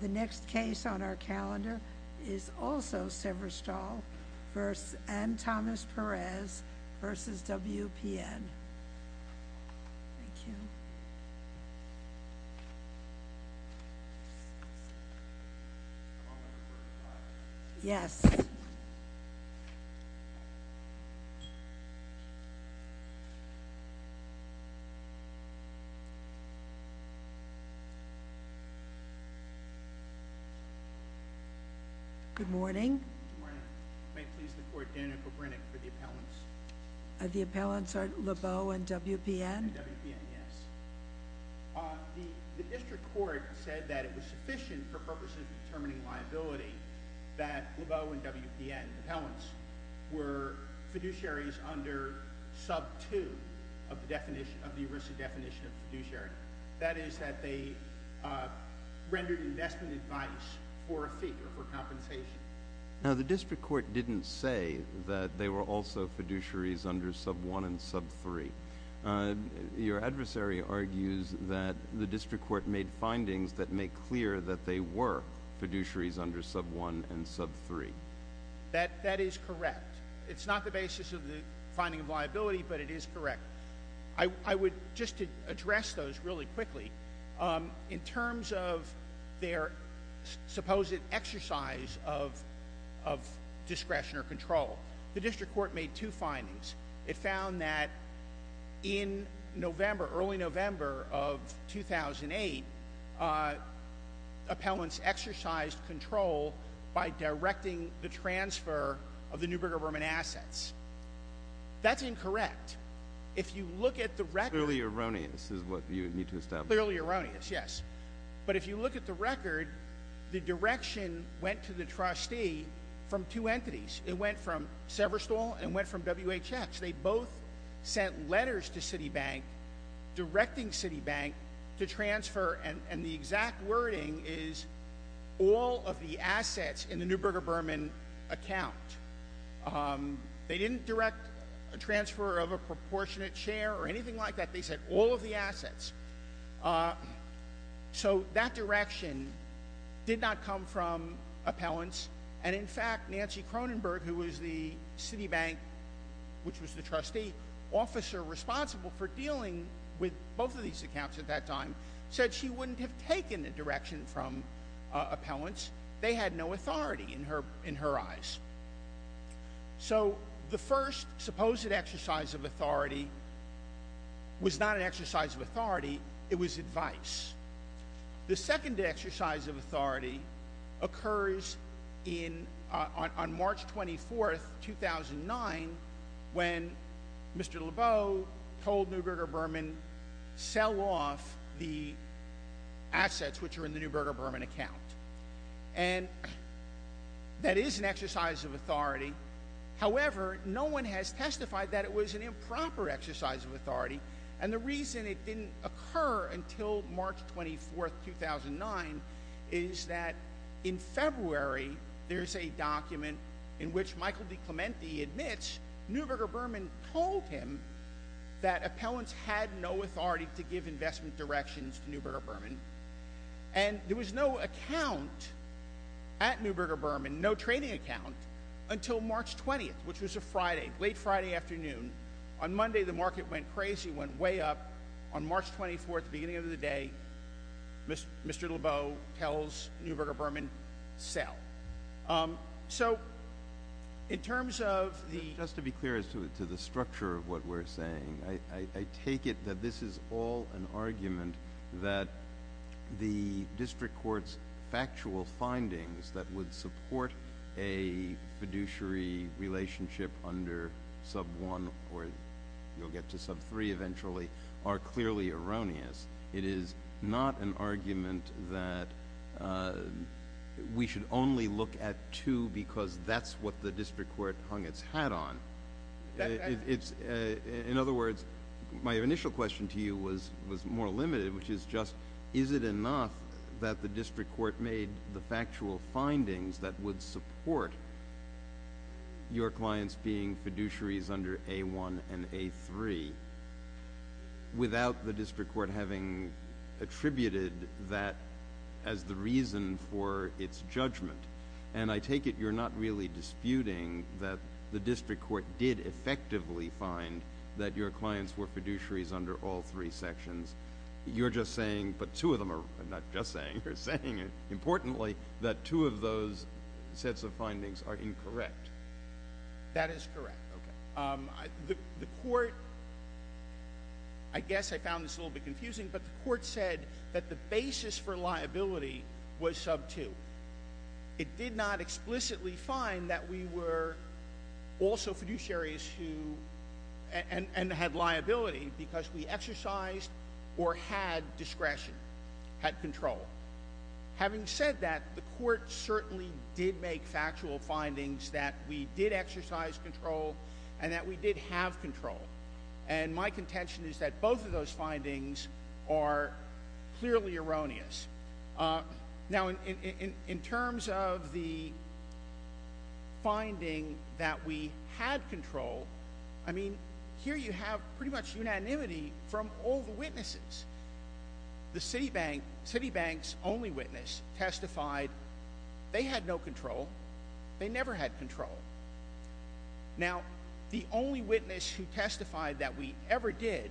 The next case on our calendar is also Severstal and Thomas Perez vs. WPN. Thank you. Yes. Good morning. Good morning. May it please the court, Daniel Kobrynek for the appellants. The appellants are Lebeau and WPN? And WPN, yes. The district court said that it was sufficient for purposes of determining liability that Lebeau and WPN appellants were fiduciaries under sub 2 of the ERISA definition of fiduciary. That is that they rendered investment advice for a fee or for compensation. Now, the district court didn't say that they were also fiduciaries under sub 1 and sub 3. Your adversary argues that the district court made findings that make clear that they were fiduciaries under sub 1 and sub 3. That is correct. It's not the basis of the finding of liability, but it is correct. I would just address those really quickly. In terms of their supposed exercise of discretion or control, the district court made two findings. It found that in November, early November of 2008, appellants exercised control by directing the transfer of the New Brigger Berman assets. That's incorrect. If you look at the record. Clearly erroneous is what you need to establish. Clearly erroneous, yes. But if you look at the record, the direction went to the trustee from two entities. It went from Severstall and it went from WHX. They both sent letters to Citibank directing Citibank to transfer and the exact wording is all of the assets in the New Brigger Berman account. They didn't direct a transfer of a proportionate share or anything like that. They said all of the assets. So that direction did not come from appellants. And in fact, Nancy Cronenberg, who was the Citibank, which was the trustee, officer responsible for dealing with both of these accounts at that time, said she wouldn't have taken the direction from appellants. They had no authority in her eyes. So the first supposed exercise of authority was not an exercise of authority. It was advice. The second exercise of authority occurs on March 24, 2009 when Mr. Lebeau told New Brigger Berman sell off the assets which are in the New Brigger Berman account. And that is an exercise of authority. However, no one has testified that it was an improper exercise of authority. And the reason it didn't occur until March 24, 2009 is that in February, there's a document in which Michael DiClemente admits New Brigger Berman told him that appellants had no authority to give investment directions to New Brigger Berman. And there was no account at New Brigger Berman, no trading account, until March 20th, which was a Friday, late Friday afternoon. On Monday, the market went crazy, went way up. On March 24th, the beginning of the day, Mr. Lebeau tells New Brigger Berman sell. So in terms of the- Just to be clear as to the structure of what we're saying, I take it that this is all an argument that the district court's factual findings that would support a fiduciary relationship under sub one or you'll get to sub three eventually are clearly erroneous. It is not an argument that we should only look at two because that's what the district court hung its hat on. In other words, my initial question to you was more limited, which is just, is it enough that the district court made the factual findings that would support your clients being fiduciaries under A1 and A3 without the district court having attributed that as the reason for its judgment? And I take it you're not really disputing that the district court did effectively find that your clients were fiduciaries under all three sections. You're just saying, but two of them are not just saying, you're saying importantly that two of those sets of findings are incorrect. That is correct. The court, I guess I found this a little bit confusing, but the court said that the basis for liability was sub two. It did not explicitly find that we were also fiduciaries and had liability because we exercised or had discretion, had control. Having said that, the court certainly did make factual findings that we did exercise control and that we did have control. And my contention is that both of those findings are clearly erroneous. Now, in terms of the finding that we had control, I mean, here you have pretty much unanimity from all the witnesses. The Citibank's only witness testified they had no control. They never had control. Now, the only witness who testified that we ever did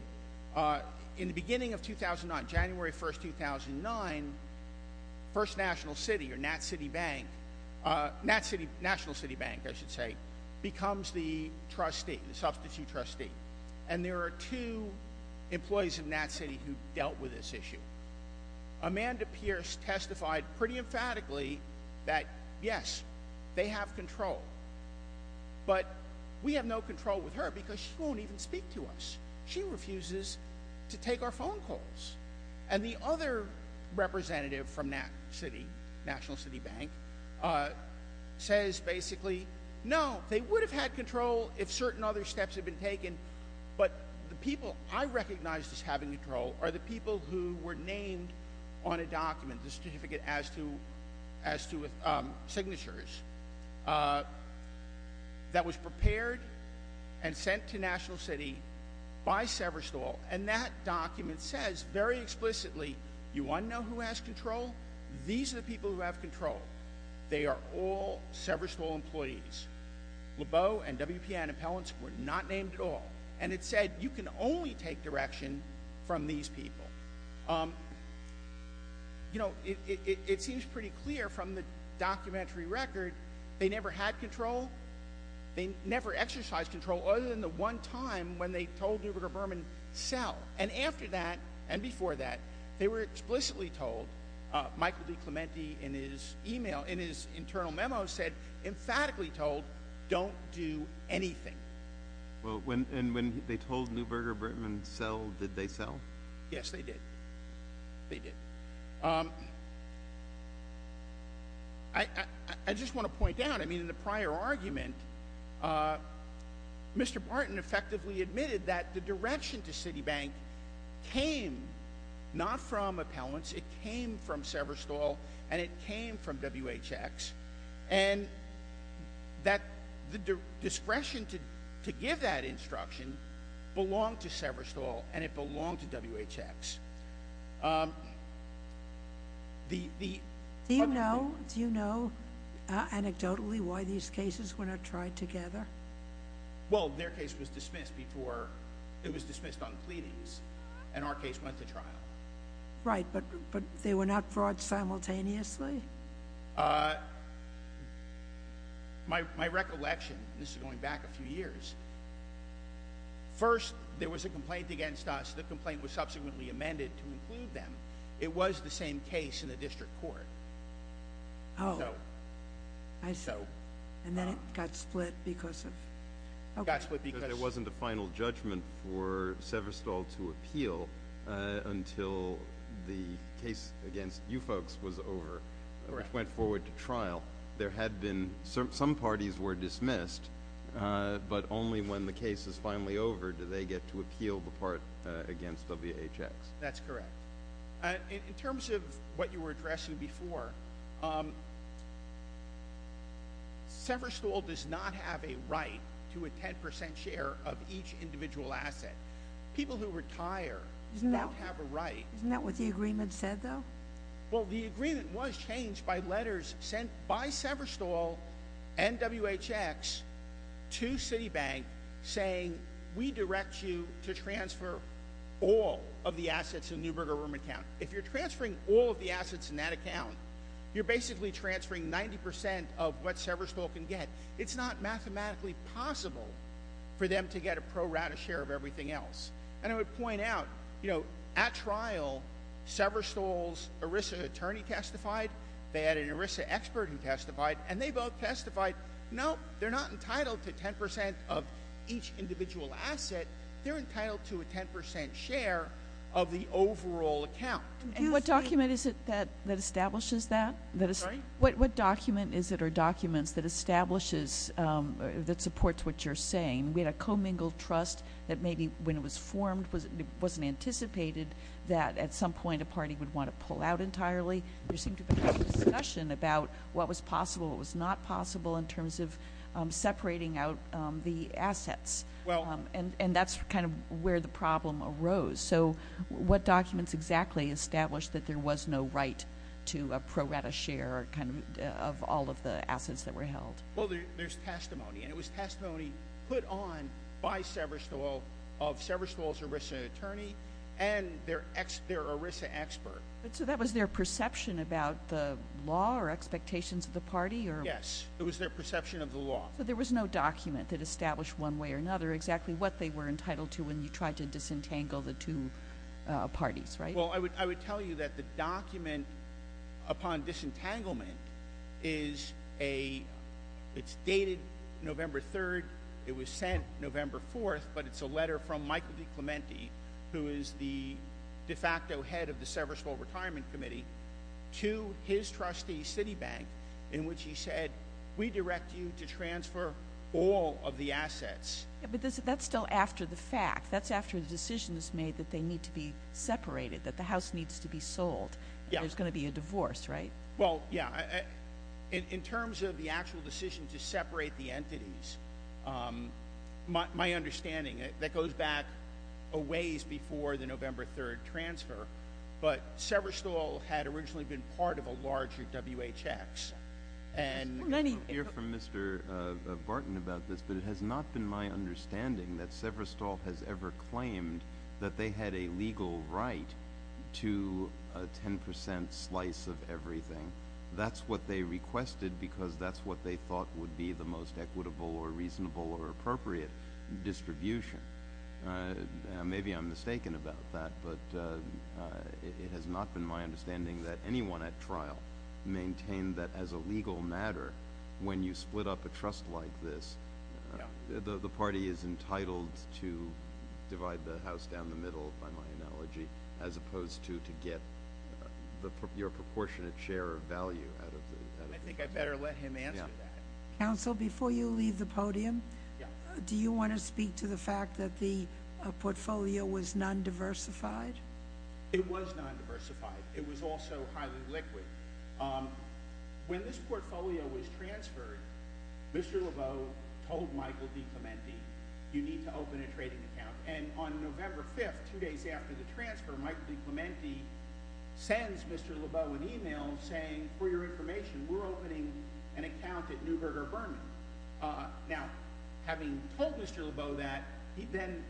in the beginning of 2009, January 1, 2009, First National City or NatCity Bank, National City Bank, I should say, becomes the substitute trustee. And there are two employees of NatCity who dealt with this issue. Amanda Pierce testified pretty emphatically that, yes, they have control. But we have no control with her because she won't even speak to us. She refuses to take our phone calls. And the other representative from NatCity, National City Bank, says basically, no, they would have had control if certain other steps had been taken. But the people I recognized as having control are the people who were named on a document, the certificate as to signatures, that was prepared and sent to National City by Severstall. And that document says very explicitly, you want to know who has control? These are the people who have control. They are all Severstall employees. Lebeau and WPN Appellants were not named at all. And it said you can only take direction from these people. You know, it seems pretty clear from the documentary record they never had control. They never exercised control other than the one time when they told Neuberger-Berman, sell. And after that and before that, they were explicitly told, Michael DiClemente in his internal memo said emphatically told, don't do anything. And when they told Neuberger-Berman, sell, did they sell? Yes, they did. They did. I just want to point out, I mean, in the prior argument, Mr. Barton effectively admitted that the direction to Citibank came not from appellants. It came from Severstall and it came from WHX. And that the discretion to give that instruction belonged to Severstall and it belonged to WHX. Do you know anecdotally why these cases were not tried together? Well, their case was dismissed before it was dismissed on pleadings and our case went to trial. Right, but they were not brought simultaneously? My recollection, this is going back a few years. First, there was a complaint against us. The complaint was subsequently amended to include them. It was the same case in the district court. Oh, I see. And then it got split because of? It got split because it wasn't a final judgment for Severstall to appeal until the case against you folks was over, which went forward to trial. There had been some parties were dismissed, but only when the case is finally over do they get to appeal the part against WHX. That's correct. In terms of what you were addressing before, Severstall does not have a right to a 10% share of each individual asset. People who retire don't have a right. Isn't that what the agreement said, though? Well, the agreement was changed by letters sent by Severstall and WHX to Citibank saying, we direct you to transfer all of the assets in the Newberger room account. If you're transferring all of the assets in that account, you're basically transferring 90% of what Severstall can get. It's not mathematically possible for them to get a pro rata share of everything else. I would point out, at trial, Severstall's ERISA attorney testified. They had an ERISA expert who testified. They both testified, no, they're not entitled to 10% of each individual asset. They're entitled to a 10% share of the overall account. What document is it that establishes that? Sorry? What document is it or documents that establishes, that supports what you're saying? We had a commingled trust that maybe, when it was formed, it wasn't anticipated that at some point a party would want to pull out entirely. There seemed to have been a lot of discussion about what was possible, what was not possible, in terms of separating out the assets. And that's kind of where the problem arose. So what documents exactly establish that there was no right to a pro rata share of all of the assets that were held? Well, there's testimony. And it was testimony put on by Severstall of Severstall's ERISA attorney and their ERISA expert. So that was their perception about the law or expectations of the party? Yes, it was their perception of the law. So there was no document that established one way or another exactly what they were entitled to when you tried to disentangle the two parties, right? Well, I would tell you that the document upon disentanglement is dated November 3rd. It was sent November 4th. But it's a letter from Michael DiClemente, who is the de facto head of the Severstall Retirement Committee, to his trustee, Citibank, in which he said, we direct you to transfer all of the assets. But that's still after the fact. That's after the decision is made that they need to be separated, that the house needs to be sold. There's going to be a divorce, right? Well, yeah. In terms of the actual decision to separate the entities, my understanding, that goes back a ways before the November 3rd transfer. But Severstall had originally been part of a larger WHX. We're going to hear from Mr. Barton about this, but it has not been my understanding that Severstall has ever claimed that they had a legal right to a 10 percent slice of everything. That's what they requested because that's what they thought would be the most equitable or reasonable or appropriate distribution. Maybe I'm mistaken about that, but it has not been my understanding that anyone at trial maintained that as a legal matter, when you split up a trust like this, the party is entitled to divide the house down the middle, by my analogy, as opposed to to get your proportionate share of value out of it. I think I better let him answer that. Counsel, before you leave the podium, do you want to speak to the fact that the portfolio was non-diversified? It was non-diversified. It was also highly liquid. When this portfolio was transferred, Mr. Lebeau told Michael DiClemente, you need to open a trading account. And on November 5th, two days after the transfer, Michael DiClemente sends Mr. Lebeau an email saying, for your information, we're opening an account at Neuberger Berman. Now, having told Mr. Lebeau that, he then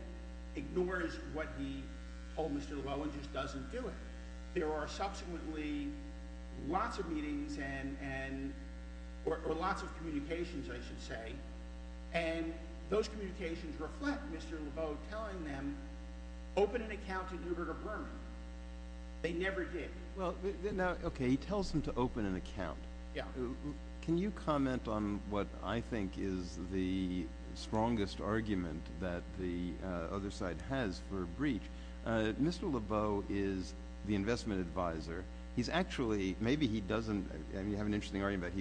ignores what he told Mr. Lebeau and just doesn't do it. There are subsequently lots of meetings or lots of communications, I should say, and those communications reflect Mr. Lebeau telling them, open an account at Neuberger Berman. They never did. Okay, he tells them to open an account. Can you comment on what I think is the strongest argument that the other side has for breach? Mr. Lebeau is the investment advisor. He's actually, maybe he doesn't, and you have an interesting argument,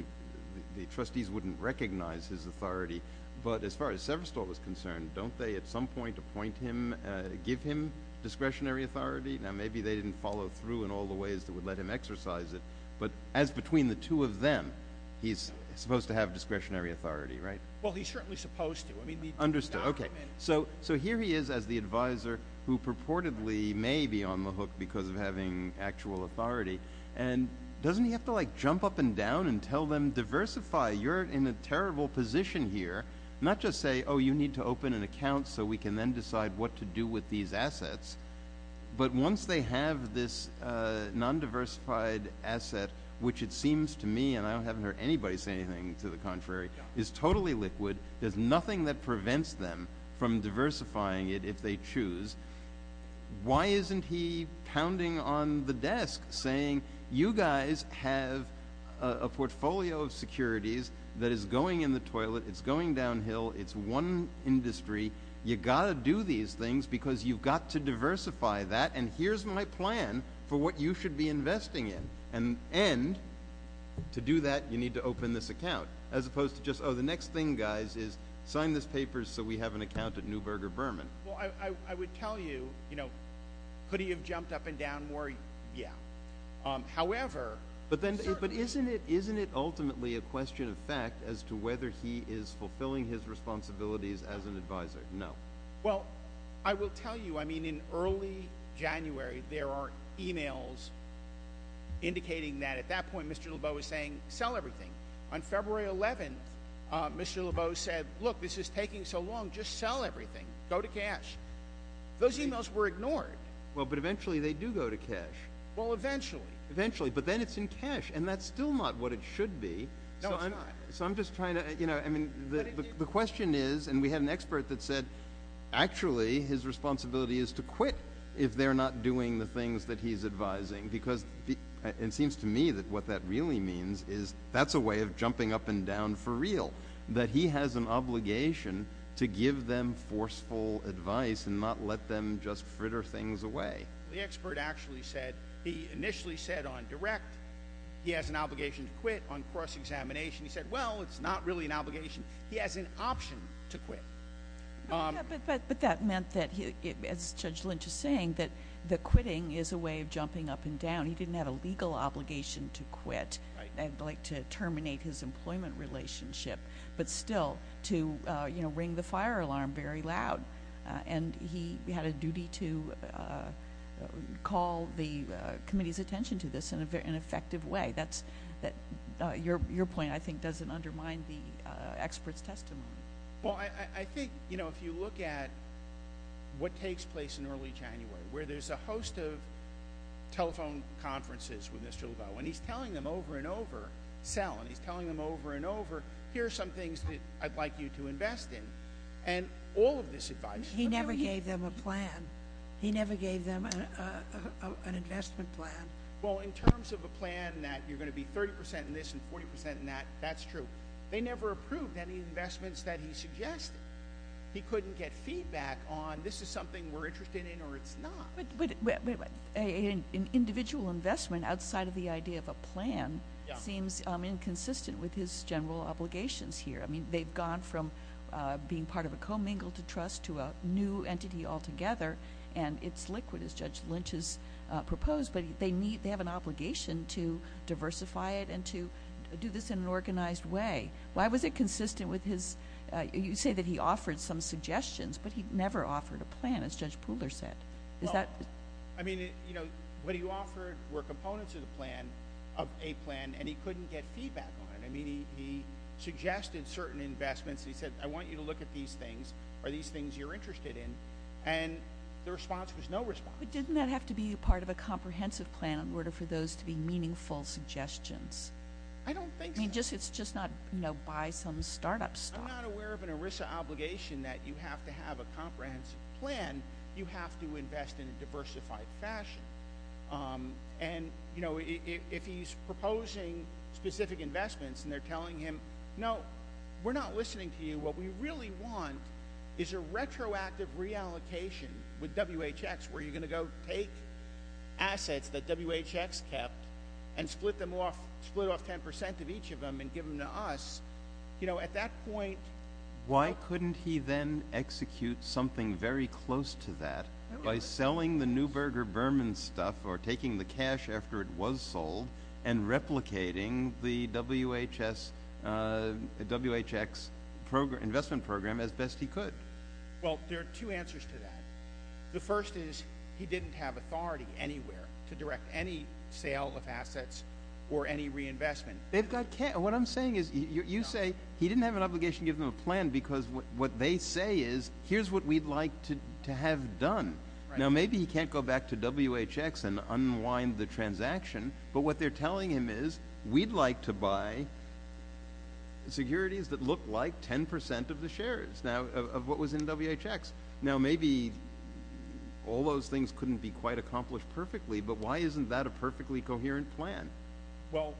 the trustees wouldn't recognize his authority, but as far as Severstolt was concerned, don't they at some point appoint him, give him discretionary authority? Now, maybe they didn't follow through in all the ways that would let him exercise it, but as between the two of them, he's supposed to have discretionary authority, right? Well, he's certainly supposed to. Understood. Okay, so here he is as the advisor who purportedly may be on the hook because of having actual authority, and doesn't he have to jump up and down and tell them, diversify, you're in a terrible position here, not just say, oh, you need to open an account so we can then decide what to do with these assets, but once they have this non-diversified asset, which it seems to me, and I haven't heard anybody say anything to the contrary, is totally liquid, there's nothing that prevents them from diversifying it if they choose, why isn't he pounding on the desk saying, you guys have a portfolio of securities that is going in the toilet, it's going downhill, it's one industry, you've got to do these things because you've got to diversify that and here's my plan for what you should be investing in, and to do that you need to open this account, as opposed to just, oh, the next thing, guys, is sign this paper so we have an account at Neuberger Berman. Well, I would tell you, you know, could he have jumped up and down more? Yeah. However, But isn't it ultimately a question of fact as to whether he is fulfilling his responsibilities as an advisor? No. Well, I will tell you, I mean, in early January there are e-mails indicating that at that point Mr. Lebeau was saying sell everything. On February 11th, Mr. Lebeau said, look, this is taking so long, just sell everything, go to cash. Those e-mails were ignored. Well, but eventually they do go to cash. Well, eventually. Eventually, but then it's in cash and that's still not what it should be. No, it's not. So I'm just trying to, you know, I mean, the question is, and we had an expert that said actually his responsibility is to quit if they're not doing the things that he's advising because it seems to me that what that really means is that's a way of jumping up and down for real, that he has an obligation to give them forceful advice and not let them just fritter things away. The expert actually said, he initially said on direct he has an obligation to quit. On cross-examination he said, well, it's not really an obligation. He has an option to quit. But that meant that, as Judge Lynch is saying, that the quitting is a way of jumping up and down. He didn't have a legal obligation to quit and like to terminate his employment relationship, but still to, you know, ring the fire alarm very loud. And he had a duty to call the committee's attention to this in an effective way. That's your point, I think, doesn't undermine the expert's testimony. Well, I think, you know, if you look at what takes place in early January, where there's a host of telephone conferences with Mr. Levelle, and he's telling them over and over, Sal, and he's telling them over and over, here are some things that I'd like you to invest in. And all of this advice. He never gave them a plan. He never gave them an investment plan. Well, in terms of a plan that you're going to be 30% in this and 40% in that, that's true. They never approved any investments that he suggested. He couldn't get feedback on this is something we're interested in or it's not. An individual investment outside of the idea of a plan seems inconsistent with his general obligations here. I mean, they've gone from being part of a commingled trust to a new entity altogether, and it's liquid, as Judge Lynch has proposed. But they have an obligation to diversify it and to do this in an organized way. Why was it consistent with his ñ you say that he offered some suggestions, but he never offered a plan, as Judge Pooler said. I mean, you know, what he offered were components of the plan, of a plan, and he couldn't get feedback on it. I mean, he suggested certain investments. He said, I want you to look at these things. Are these things you're interested in? And the response was no response. But didn't that have to be part of a comprehensive plan in order for those to be meaningful suggestions? I don't think so. I mean, it's just not, you know, buy some startup stuff. I'm not aware of an ERISA obligation that you have to have a comprehensive plan. You have to invest in a diversified fashion. And, you know, if he's proposing specific investments and they're telling him, no, we're not listening to you. What we really want is a retroactive reallocation with WHX, where you're going to go take assets that WHX kept and split them off, split off 10 percent of each of them and give them to us. You know, at that point ñ Why couldn't he then execute something very close to that by selling the Neuberger-Berman stuff or taking the cash after it was sold and replicating the WHX investment program as best he could? Well, there are two answers to that. The first is he didn't have authority anywhere to direct any sale of assets or any reinvestment. What I'm saying is you say he didn't have an obligation to give them a plan because what they say is here's what we'd like to have done. Now, maybe he can't go back to WHX and unwind the transaction, but what they're telling him is we'd like to buy securities that look like 10 percent of the shares of what was in WHX. Now, maybe all those things couldn't be quite accomplished perfectly, but why isn't that a perfectly coherent plan? Well,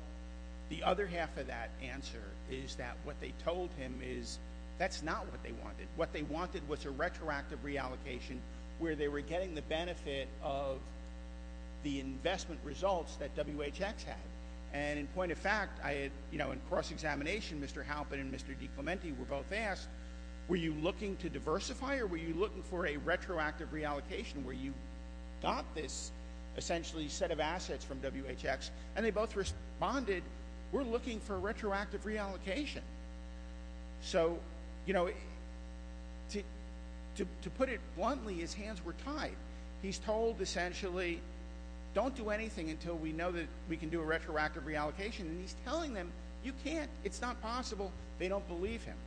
the other half of that answer is that what they told him is that's not what they wanted. What they wanted was a retroactive reallocation where they were getting the benefit of the investment results that WHX had. And in point of fact, in cross-examination, Mr. Halpin and Mr. DiClemente were both asked, were you looking to diversify or were you looking for a retroactive reallocation where you got this essentially set of assets from WHX? And they both responded, we're looking for a retroactive reallocation. So, you know, to put it bluntly, his hands were tied. He's told essentially, don't do anything until we know that we can do a retroactive reallocation. And he's telling them, you can't, it's not possible, they don't believe him.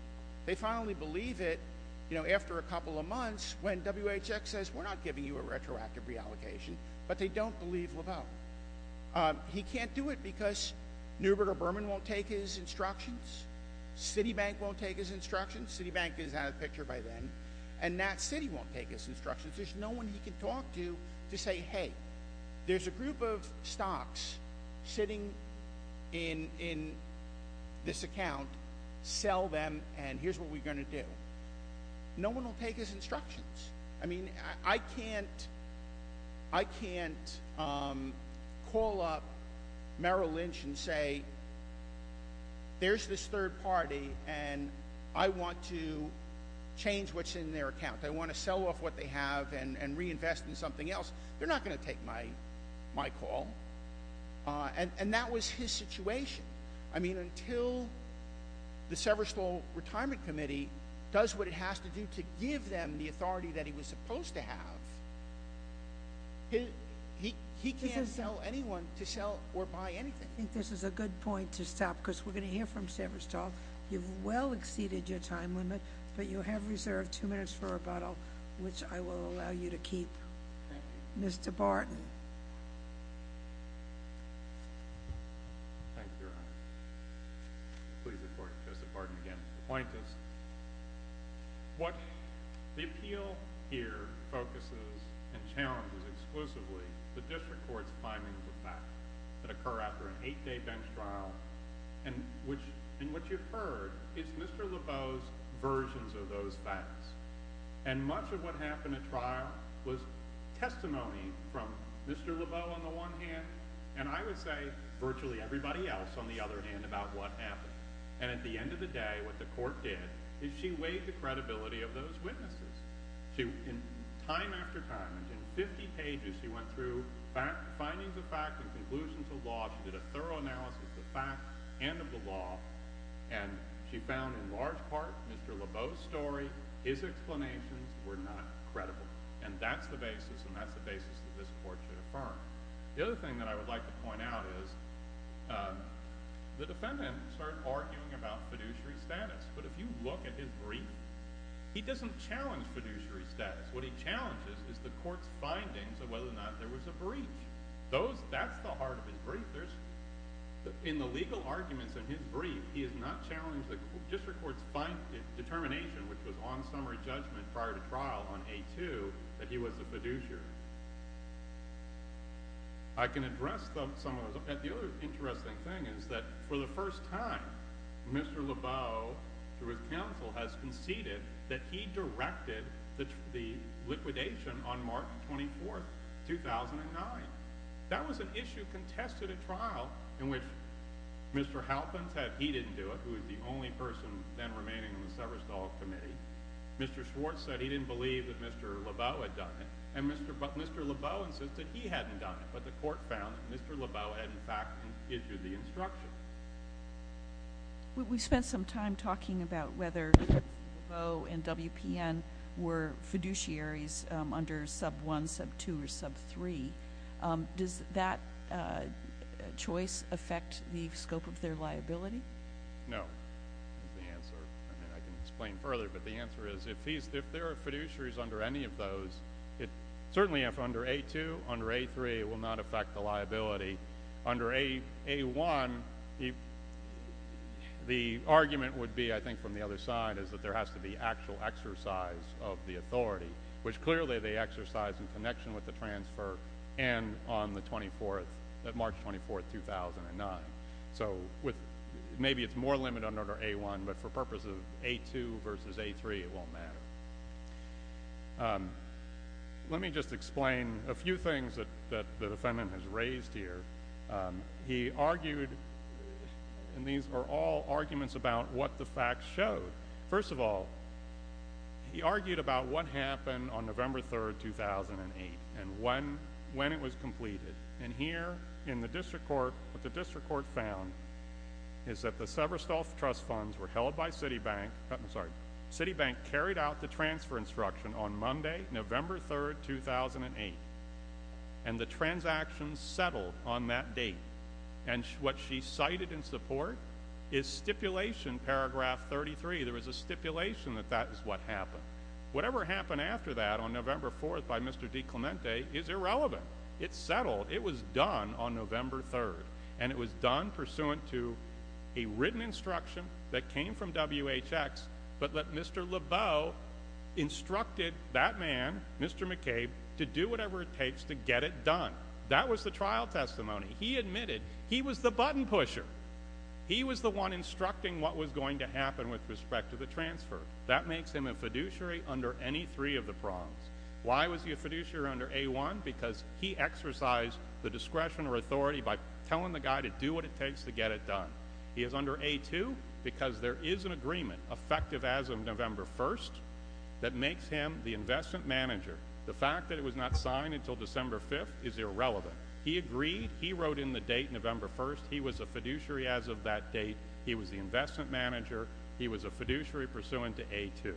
They finally believe it, you know, after a couple of months when WHX says, we're not giving you a retroactive reallocation, but they don't believe LeBel. He can't do it because Neuberger Berman won't take his instructions. Citibank won't take his instructions. Citibank is out of the picture by then. And Nat City won't take his instructions. There's no one he can talk to to say, hey, there's a group of stocks sitting in this account. Sell them and here's what we're going to do. No one will take his instructions. I mean, I can't call up Merrill Lynch and say, there's this third party and I want to change what's in their account. I want to sell off what they have and reinvest in something else. They're not going to take my call. And that was his situation. I mean, until the Severstall Retirement Committee does what it has to do to give them the authority that he was supposed to have, he can't tell anyone to sell or buy anything. I think this is a good point to stop because we're going to hear from Severstall. You've well exceeded your time limit, but you have reserved two minutes for rebuttal, which I will allow you to keep. Thank you. Mr. Barton. Thank you, Your Honor. Please report. Joseph Barton again. Appointees. What the appeal here focuses and challenges exclusively the district court's findings of facts that occur after an eight-day bench trial. And what you've heard is Mr. Laveau's versions of those facts. And much of what happened at trial was testimony from Mr. Laveau, on the one hand, and I would say virtually everybody else, on the other hand, about what happened. And at the end of the day, what the court did is she weighed the credibility of those witnesses. Time after time, in 50 pages, she went through findings of fact and conclusions of law. She did a thorough analysis of fact and of the law. And she found, in large part, Mr. Laveau's story, his explanations were not credible. And that's the basis, and that's the basis that this court should affirm. The other thing that I would like to point out is the defendant started arguing about fiduciary status. But if you look at his brief, he doesn't challenge fiduciary status. What he challenges is the court's findings of whether or not there was a breach. That's the heart of his brief. In the legal arguments in his brief, he has not challenged the district court's determination, which was on summary judgment prior to trial on A2, that he was a fiduciary. I can address some of those. The other interesting thing is that for the first time, Mr. Laveau, through his counsel, has conceded that he directed the liquidation on March 24, 2009. That was an issue contested at trial in which Mr. Halpin said he didn't do it, who was the only person then remaining on the Severestall Committee. Mr. Schwartz said he didn't believe that Mr. Laveau had done it. And Mr. Laveau insisted he hadn't done it, but the court found that Mr. Laveau had, in fact, issued the instruction. We spent some time talking about whether Laveau and WPN were fiduciaries under sub-1, sub-2, or sub-3. Does that choice affect the scope of their liability? No, is the answer. I can explain further, but the answer is if there are fiduciaries under any of those, certainly if under A2, under A3, it will not affect the liability. Under A1, the argument would be, I think, from the other side, is that there has to be actual exercise of the authority, which clearly they exercise in connection with the transfer and on the 24th, March 24, 2009. So maybe it's more limited under A1, but for purposes of A2 versus A3, it won't matter. Let me just explain a few things that the defendant has raised here. He argued, and these are all arguments about what the facts show. First of all, he argued about what happened on November 3, 2008 and when it was completed. And here in the district court, what the district court found is that the Severstall Trust Funds were held by Citibank. I'm sorry. Citibank carried out the transfer instruction on Monday, November 3, 2008, and the transactions settled on that date. And what she cited in support is stipulation, paragraph 33. There was a stipulation that that is what happened. Whatever happened after that on November 4 by Mr. DiClemente is irrelevant. It settled. It was done on November 3, and it was done pursuant to a written instruction that came from WHX, but that Mr. Lebeau instructed that man, Mr. McCabe, to do whatever it takes to get it done. That was the trial testimony. He admitted he was the button pusher. He was the one instructing what was going to happen with respect to the transfer. That makes him a fiduciary under any three of the prongs. Why was he a fiduciary under A1? Because he exercised the discretion or authority by telling the guy to do what it takes to get it done. He is under A2 because there is an agreement effective as of November 1 that makes him the investment manager. The fact that it was not signed until December 5 is irrelevant. He agreed. He wrote in the date, November 1. He was a fiduciary as of that date. He was the investment manager. He was a fiduciary pursuant to A2.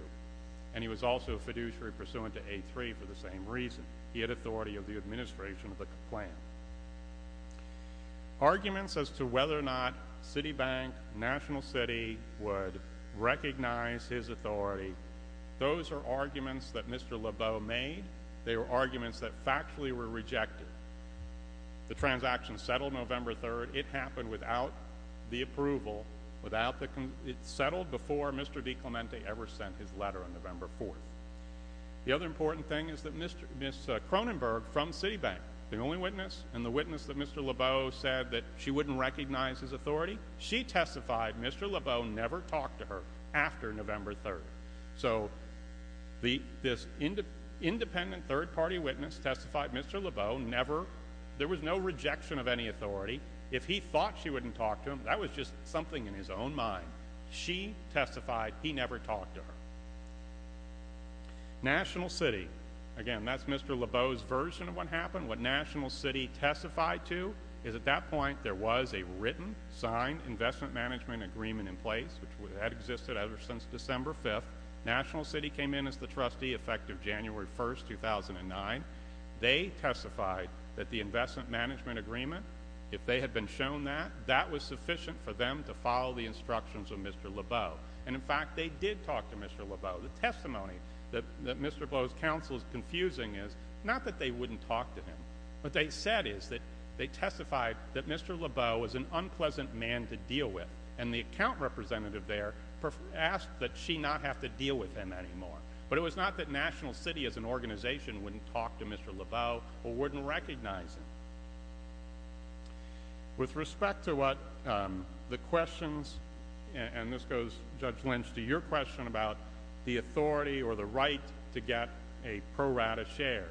And he was also a fiduciary pursuant to A3 for the same reason. He had authority of the administration of the plan. Arguments as to whether or not Citibank, National City, would recognize his authority, those are arguments that Mr. Lebeau made. They were arguments that factually were rejected. It happened without the approval. It settled before Mr. DiClemente ever sent his letter on November 4. The other important thing is that Ms. Cronenberg from Citibank, the only witness, and the witness that Mr. Lebeau said that she wouldn't recognize his authority, she testified Mr. Lebeau never talked to her after November 3. So this independent third-party witness testified Mr. Lebeau never, there was no rejection of any authority. If he thought she wouldn't talk to him, that was just something in his own mind. She testified he never talked to her. National City. Again, that's Mr. Lebeau's version of what happened. What National City testified to is at that point there was a written, signed investment management agreement in place, which had existed ever since December 5. National City came in as the trustee effective January 1, 2009. They testified that the investment management agreement, if they had been shown that, that was sufficient for them to follow the instructions of Mr. Lebeau. And, in fact, they did talk to Mr. Lebeau. The testimony that Mr. Lebeau's counsel is confusing is not that they wouldn't talk to him. What they said is that they testified that Mr. Lebeau was an unpleasant man to deal with, and the account representative there asked that she not have to deal with him anymore. But it was not that National City as an organization wouldn't talk to Mr. Lebeau or wouldn't recognize him. With respect to what the questions, and this goes, Judge Lynch, to your question about the authority or the right to get a pro rata share,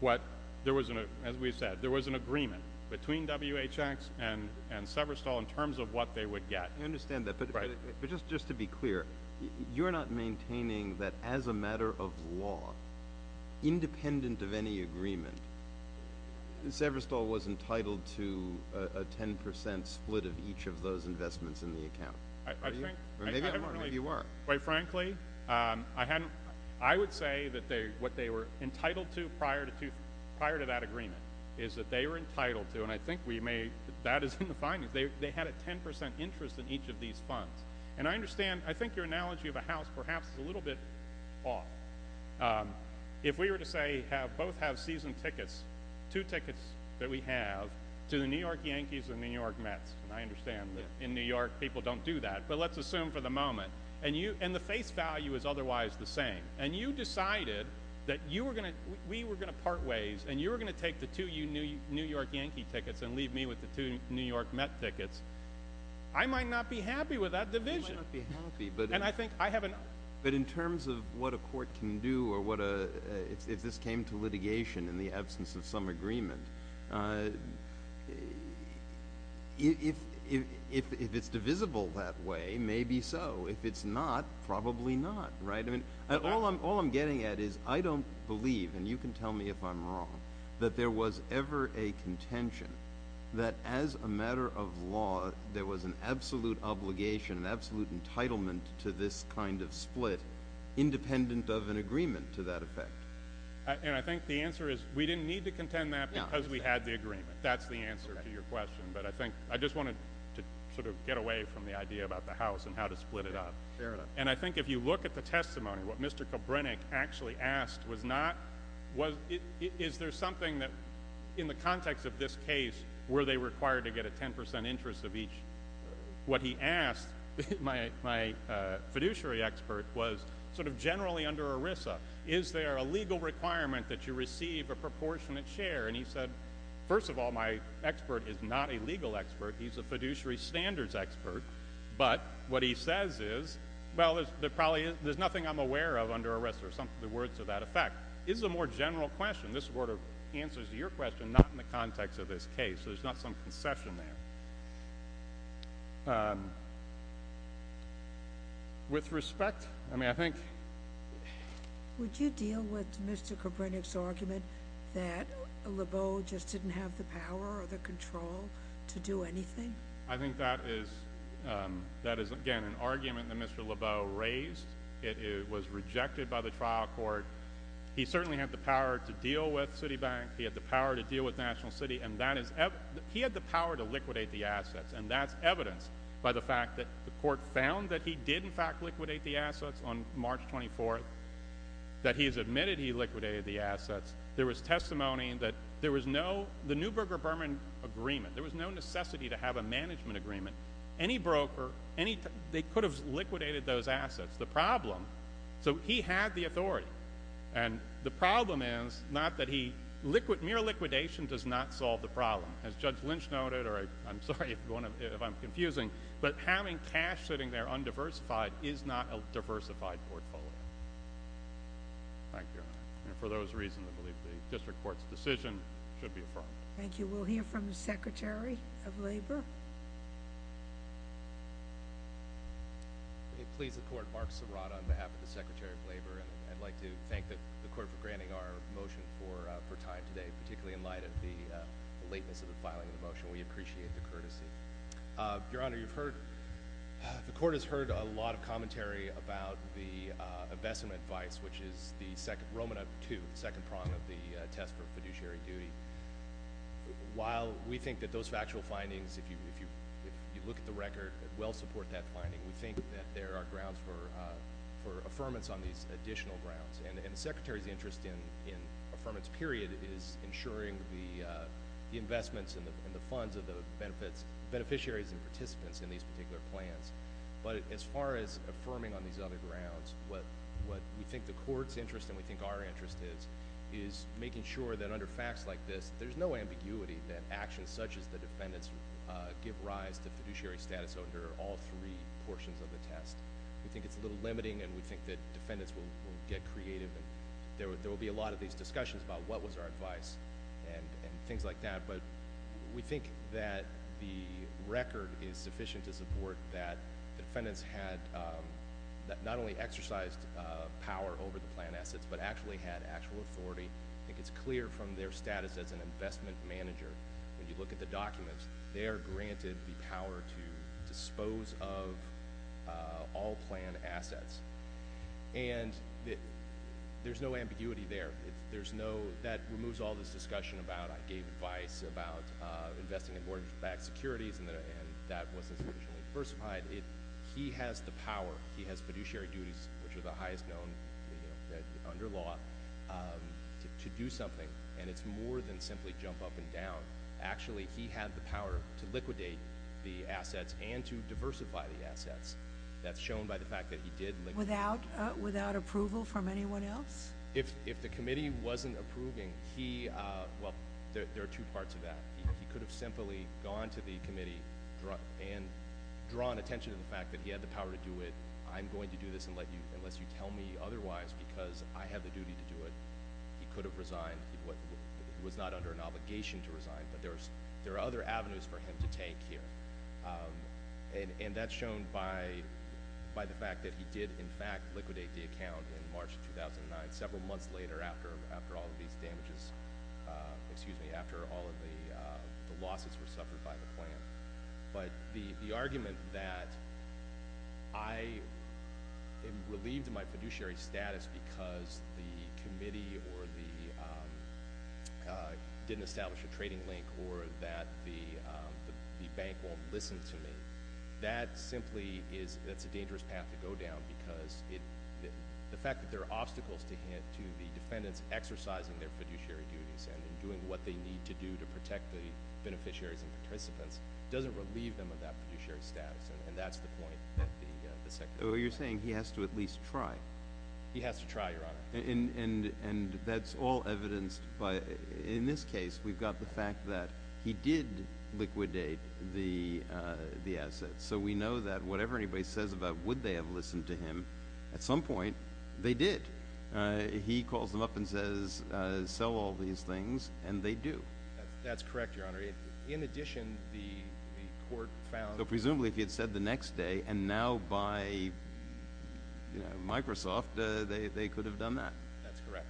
what there was, as we said, there was an agreement between WHX and Severstal in terms of what they would get. I understand that, but just to be clear, you're not maintaining that, as a matter of law, independent of any agreement, Severstal was entitled to a 10 percent split of each of those investments in the account? I think, quite frankly, I would say that what they were entitled to prior to that agreement is that they were entitled to, and I think we may, that is in the findings, they had a 10 percent interest in each of these funds. And I understand, I think your analogy of a house perhaps is a little bit off. If we were to say, both have season tickets, two tickets that we have, to the New York Yankees and the New York Mets, and I understand that in New York people don't do that, but let's assume for the moment, and the face value is otherwise the same, and you decided that you were going to, we were going to part ways, and you were going to take the two New York Yankee tickets and leave me with the two New York Met tickets, I might not be happy with that division. You might not be happy, but in terms of what a court can do, or if this came to litigation in the absence of some agreement, if it's divisible that way, maybe so. If it's not, probably not, right? All I'm getting at is I don't believe, and you can tell me if I'm wrong, that there was ever a contention that as a matter of law there was an absolute obligation, an absolute entitlement to this kind of split, independent of an agreement to that effect. And I think the answer is we didn't need to contend that because we had the agreement. That's the answer to your question, but I think, I just wanted to sort of get away from the idea about the house and how to split it up. And I think if you look at the testimony, what Mr. Kobrenik actually asked was not, is there something that, in the context of this case, were they required to get a 10% interest of each? What he asked, my fiduciary expert, was sort of generally under ERISA, is there a legal requirement that you receive a proportionate share? And he said, first of all, my expert is not a legal expert, he's a fiduciary standards expert, but what he says is, well, there probably is, there's nothing I'm aware of under ERISA, or some of the words to that effect. It's a more general question. This sort of answers to your question, not in the context of this case. There's not some concession there. With respect, I mean, I think... Would you deal with Mr. Kobrenik's argument that Lebeau just didn't have the power or the control to do anything? I think that is, again, an argument that Mr. Lebeau raised. It was rejected by the trial court. He certainly had the power to deal with Citibank, he had the power to deal with National City, and he had the power to liquidate the assets, and that's evidenced by the fact that the court found that he did, in fact, liquidate the assets on March 24th, that he has admitted he liquidated the assets. There was testimony that there was no... Any broker, any... They could have liquidated those assets. The problem, so he had the authority, and the problem is not that he... Mere liquidation does not solve the problem, as Judge Lynch noted, or I'm sorry if I'm confusing, but having cash sitting there undiversified is not a diversified portfolio. Thank you, Your Honor. And for those reasons, I believe the district court's decision should be affirmed. Thank you. We'll hear from the Secretary of Labor. Please, the court. Mark Serrata on behalf of the Secretary of Labor, and I'd like to thank the court for granting our motion for time today, particularly in light of the lateness of the filing of the motion. We appreciate the courtesy. Your Honor, you've heard... The court has heard a lot of commentary about the investment advice, which is the second prong of the test for fiduciary duty. While we think that those factual findings, if you look at the record, well support that finding, we think that there are grounds for affirmance on these additional grounds. And the Secretary's interest in affirmance period is ensuring the investments and the funds of the beneficiaries and participants in these particular plans. But as far as affirming on these other grounds, what we think the court's interest and we think our interest is, is making sure that under facts like this, there's no ambiguity that actions such as the defendant's give rise to fiduciary status under all three portions of the test. We think it's a little limiting, and we think that defendants will get creative. There will be a lot of these discussions about what was our advice and things like that. But we think that the record is sufficient to support that defendants had not only exercised power over the plan assets, but actually had actual authority. I think it's clear from their status as an investment manager. When you look at the documents, they are granted the power to dispose of all planned assets. And there's no ambiguity there. That removes all this discussion about I gave advice about investing in mortgage-backed securities, and that wasn't sufficiently diversified. He has the power. He has fiduciary duties, which are the highest known under law, to do something. And it's more than simply jump up and down. Actually, he had the power to liquidate the assets and to diversify the assets. That's shown by the fact that he did liquidate. Without approval from anyone else? If the committee wasn't approving, well, there are two parts of that. He could have simply gone to the committee and drawn attention to the fact that he had the power to do it. I'm going to do this unless you tell me otherwise, because I have the duty to do it. He could have resigned. He was not under an obligation to resign, but there are other avenues for him to take here. And that's shown by the fact that he did, in fact, liquidate the account in March of 2009, several months later after all of these damages, excuse me, after all of the losses were suffered by the plan. But the argument that I am relieved of my fiduciary status because the committee didn't establish a trading link or that the bank won't listen to me, that simply is a dangerous path to go down, because the fact that there are obstacles to the defendants exercising their fiduciary duties and doing what they need to do to protect the beneficiaries and participants doesn't relieve them of that fiduciary status. And that's the point that the Secretary made. So you're saying he has to at least try? He has to try, Your Honor. And that's all evidenced by, in this case, we've got the fact that he did liquidate the assets. So we know that whatever anybody says about would they have listened to him, at some point, they did. He calls them up and says, sell all these things, and they do. That's correct, Your Honor. In addition, the court found— So presumably if he had said the next day, and now by Microsoft, they could have done that. That's correct.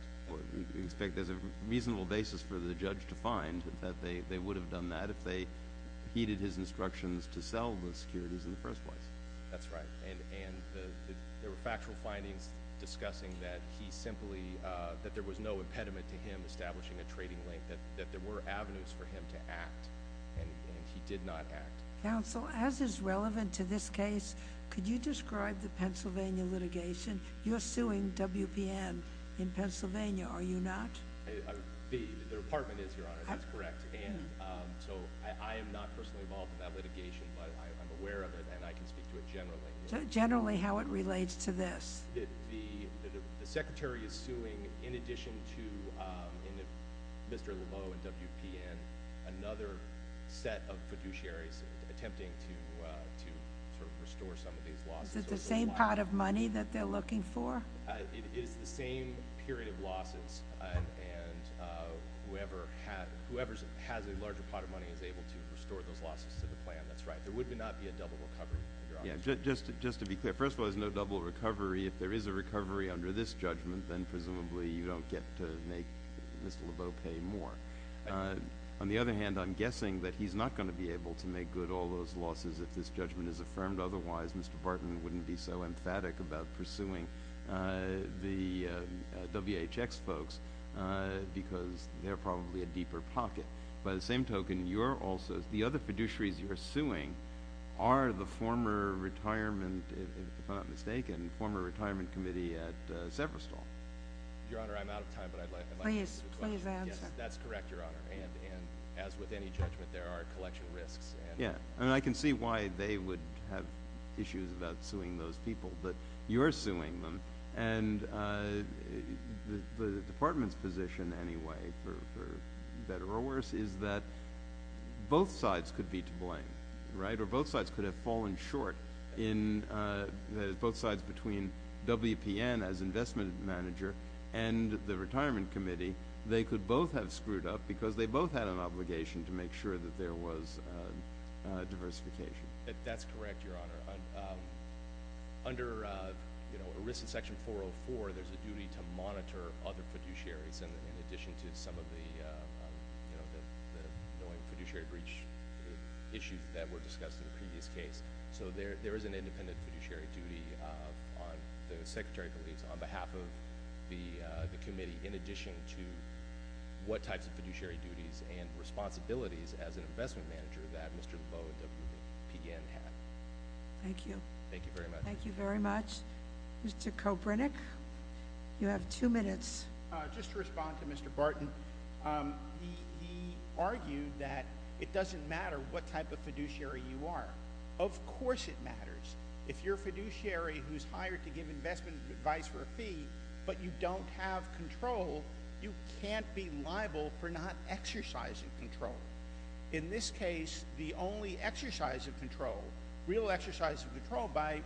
We expect there's a reasonable basis for the judge to find that they would have done that if they heeded his instructions to sell the securities in the first place. That's right. And there were factual findings discussing that he simply—that there was no impediment to him establishing a trading link, that there were avenues for him to act, and he did not act. Counsel, as is relevant to this case, could you describe the Pennsylvania litigation? You're suing WPN in Pennsylvania, are you not? The Department is, Your Honor, that's correct. I am not personally involved in that litigation, but I'm aware of it and I can speak to it generally. Generally, how it relates to this? The Secretary is suing, in addition to Mr. Laveau and WPN, another set of fiduciaries attempting to restore some of these losses. Is it the same pot of money that they're looking for? It is the same period of losses, and whoever has a larger pot of money is able to restore those losses to the plan. That's right. There would not be a double recovery, Your Honor. Just to be clear, first of all, there's no double recovery. If there is a recovery under this judgment, then presumably you don't get to make Mr. Laveau pay more. On the other hand, I'm guessing that he's not going to be able to make good all those losses if this judgment is affirmed. Otherwise, Mr. Barton wouldn't be so emphatic about pursuing the WHX folks because they're probably a deeper pocket. By the same token, the other fiduciaries you're suing are the former retirement, if I'm not mistaken, former retirement committee at Severstal. Your Honor, I'm out of time, but I'd like to answer the question. Please answer. Yes, that's correct, Your Honor, and as with any judgment, there are collection risks. Yeah, and I can see why they would have issues about suing those people, but you're suing them. And the department's position anyway, for better or worse, is that both sides could be to blame, right? Or both sides could have fallen short. Both sides between WPN as investment manager and the retirement committee, they could both have screwed up because they both had an obligation to make sure that there was diversification. That's correct, Your Honor. Under ERISA Section 404, there's a duty to monitor other fiduciaries in addition to some of the annoying fiduciary breach issues that were discussed in the previous case. So there is an independent fiduciary duty, the Secretary believes, on behalf of the committee, in addition to what types of fiduciary duties and responsibilities as an investment manager that Mr. Labeau of WPN had. Thank you. Thank you very much. Thank you very much. Mr. Kopernik, you have two minutes. Just to respond to Mr. Barton, he argued that it doesn't matter what type of fiduciary you are. Of course it matters. If you're a fiduciary who's hired to give investment advice for a fee but you don't have control, you can't be liable for not exercising control. In this case, the only exercise of control, real exercise of control by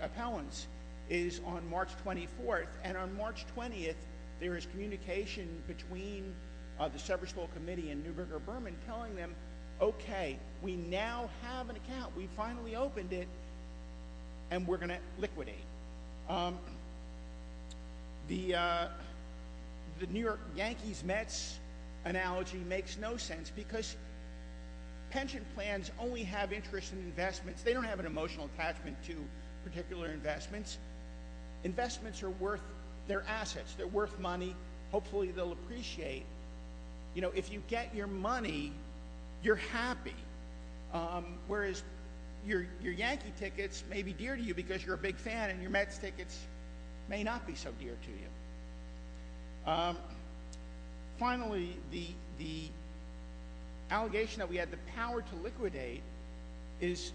appellants, is on March 24th. And on March 20th, there is communication between the Severstall Committee and Newberger-Berman telling them, okay, we now have an account, we finally opened it, and we're going to liquidate. The New York Yankees-Mets analogy makes no sense because pension plans only have interest in investments. They don't have an emotional attachment to particular investments. Investments are worth their assets. They're worth money. Hopefully they'll appreciate. If you get your money, you're happy, whereas your Yankee tickets may be dear to you because you're a big fan and your Mets tickets may not be so dear to you. Finally, the allegation that we had the power to liquidate is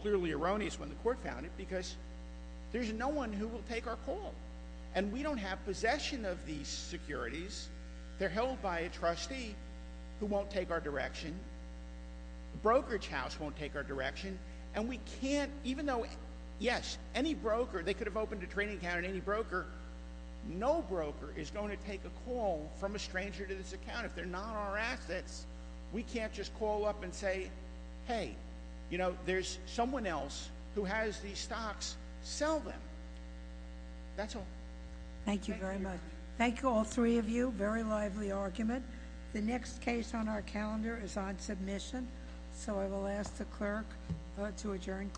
clearly erroneous when the court found it because there's no one who will take our call. And we don't have possession of these securities. They're held by a trustee who won't take our direction. The brokerage house won't take our direction. And we can't, even though, yes, any broker, they could have opened a trading account at any broker, no broker is going to take a call from a stranger to this account. If they're not our assets, we can't just call up and say, hey, you know, there's someone else who has these stocks. Sell them. That's all. Thank you very much. Thank you, all three of you. Very lively argument. The next case on our calendar is on submission. So I will ask the clerk to adjourn court.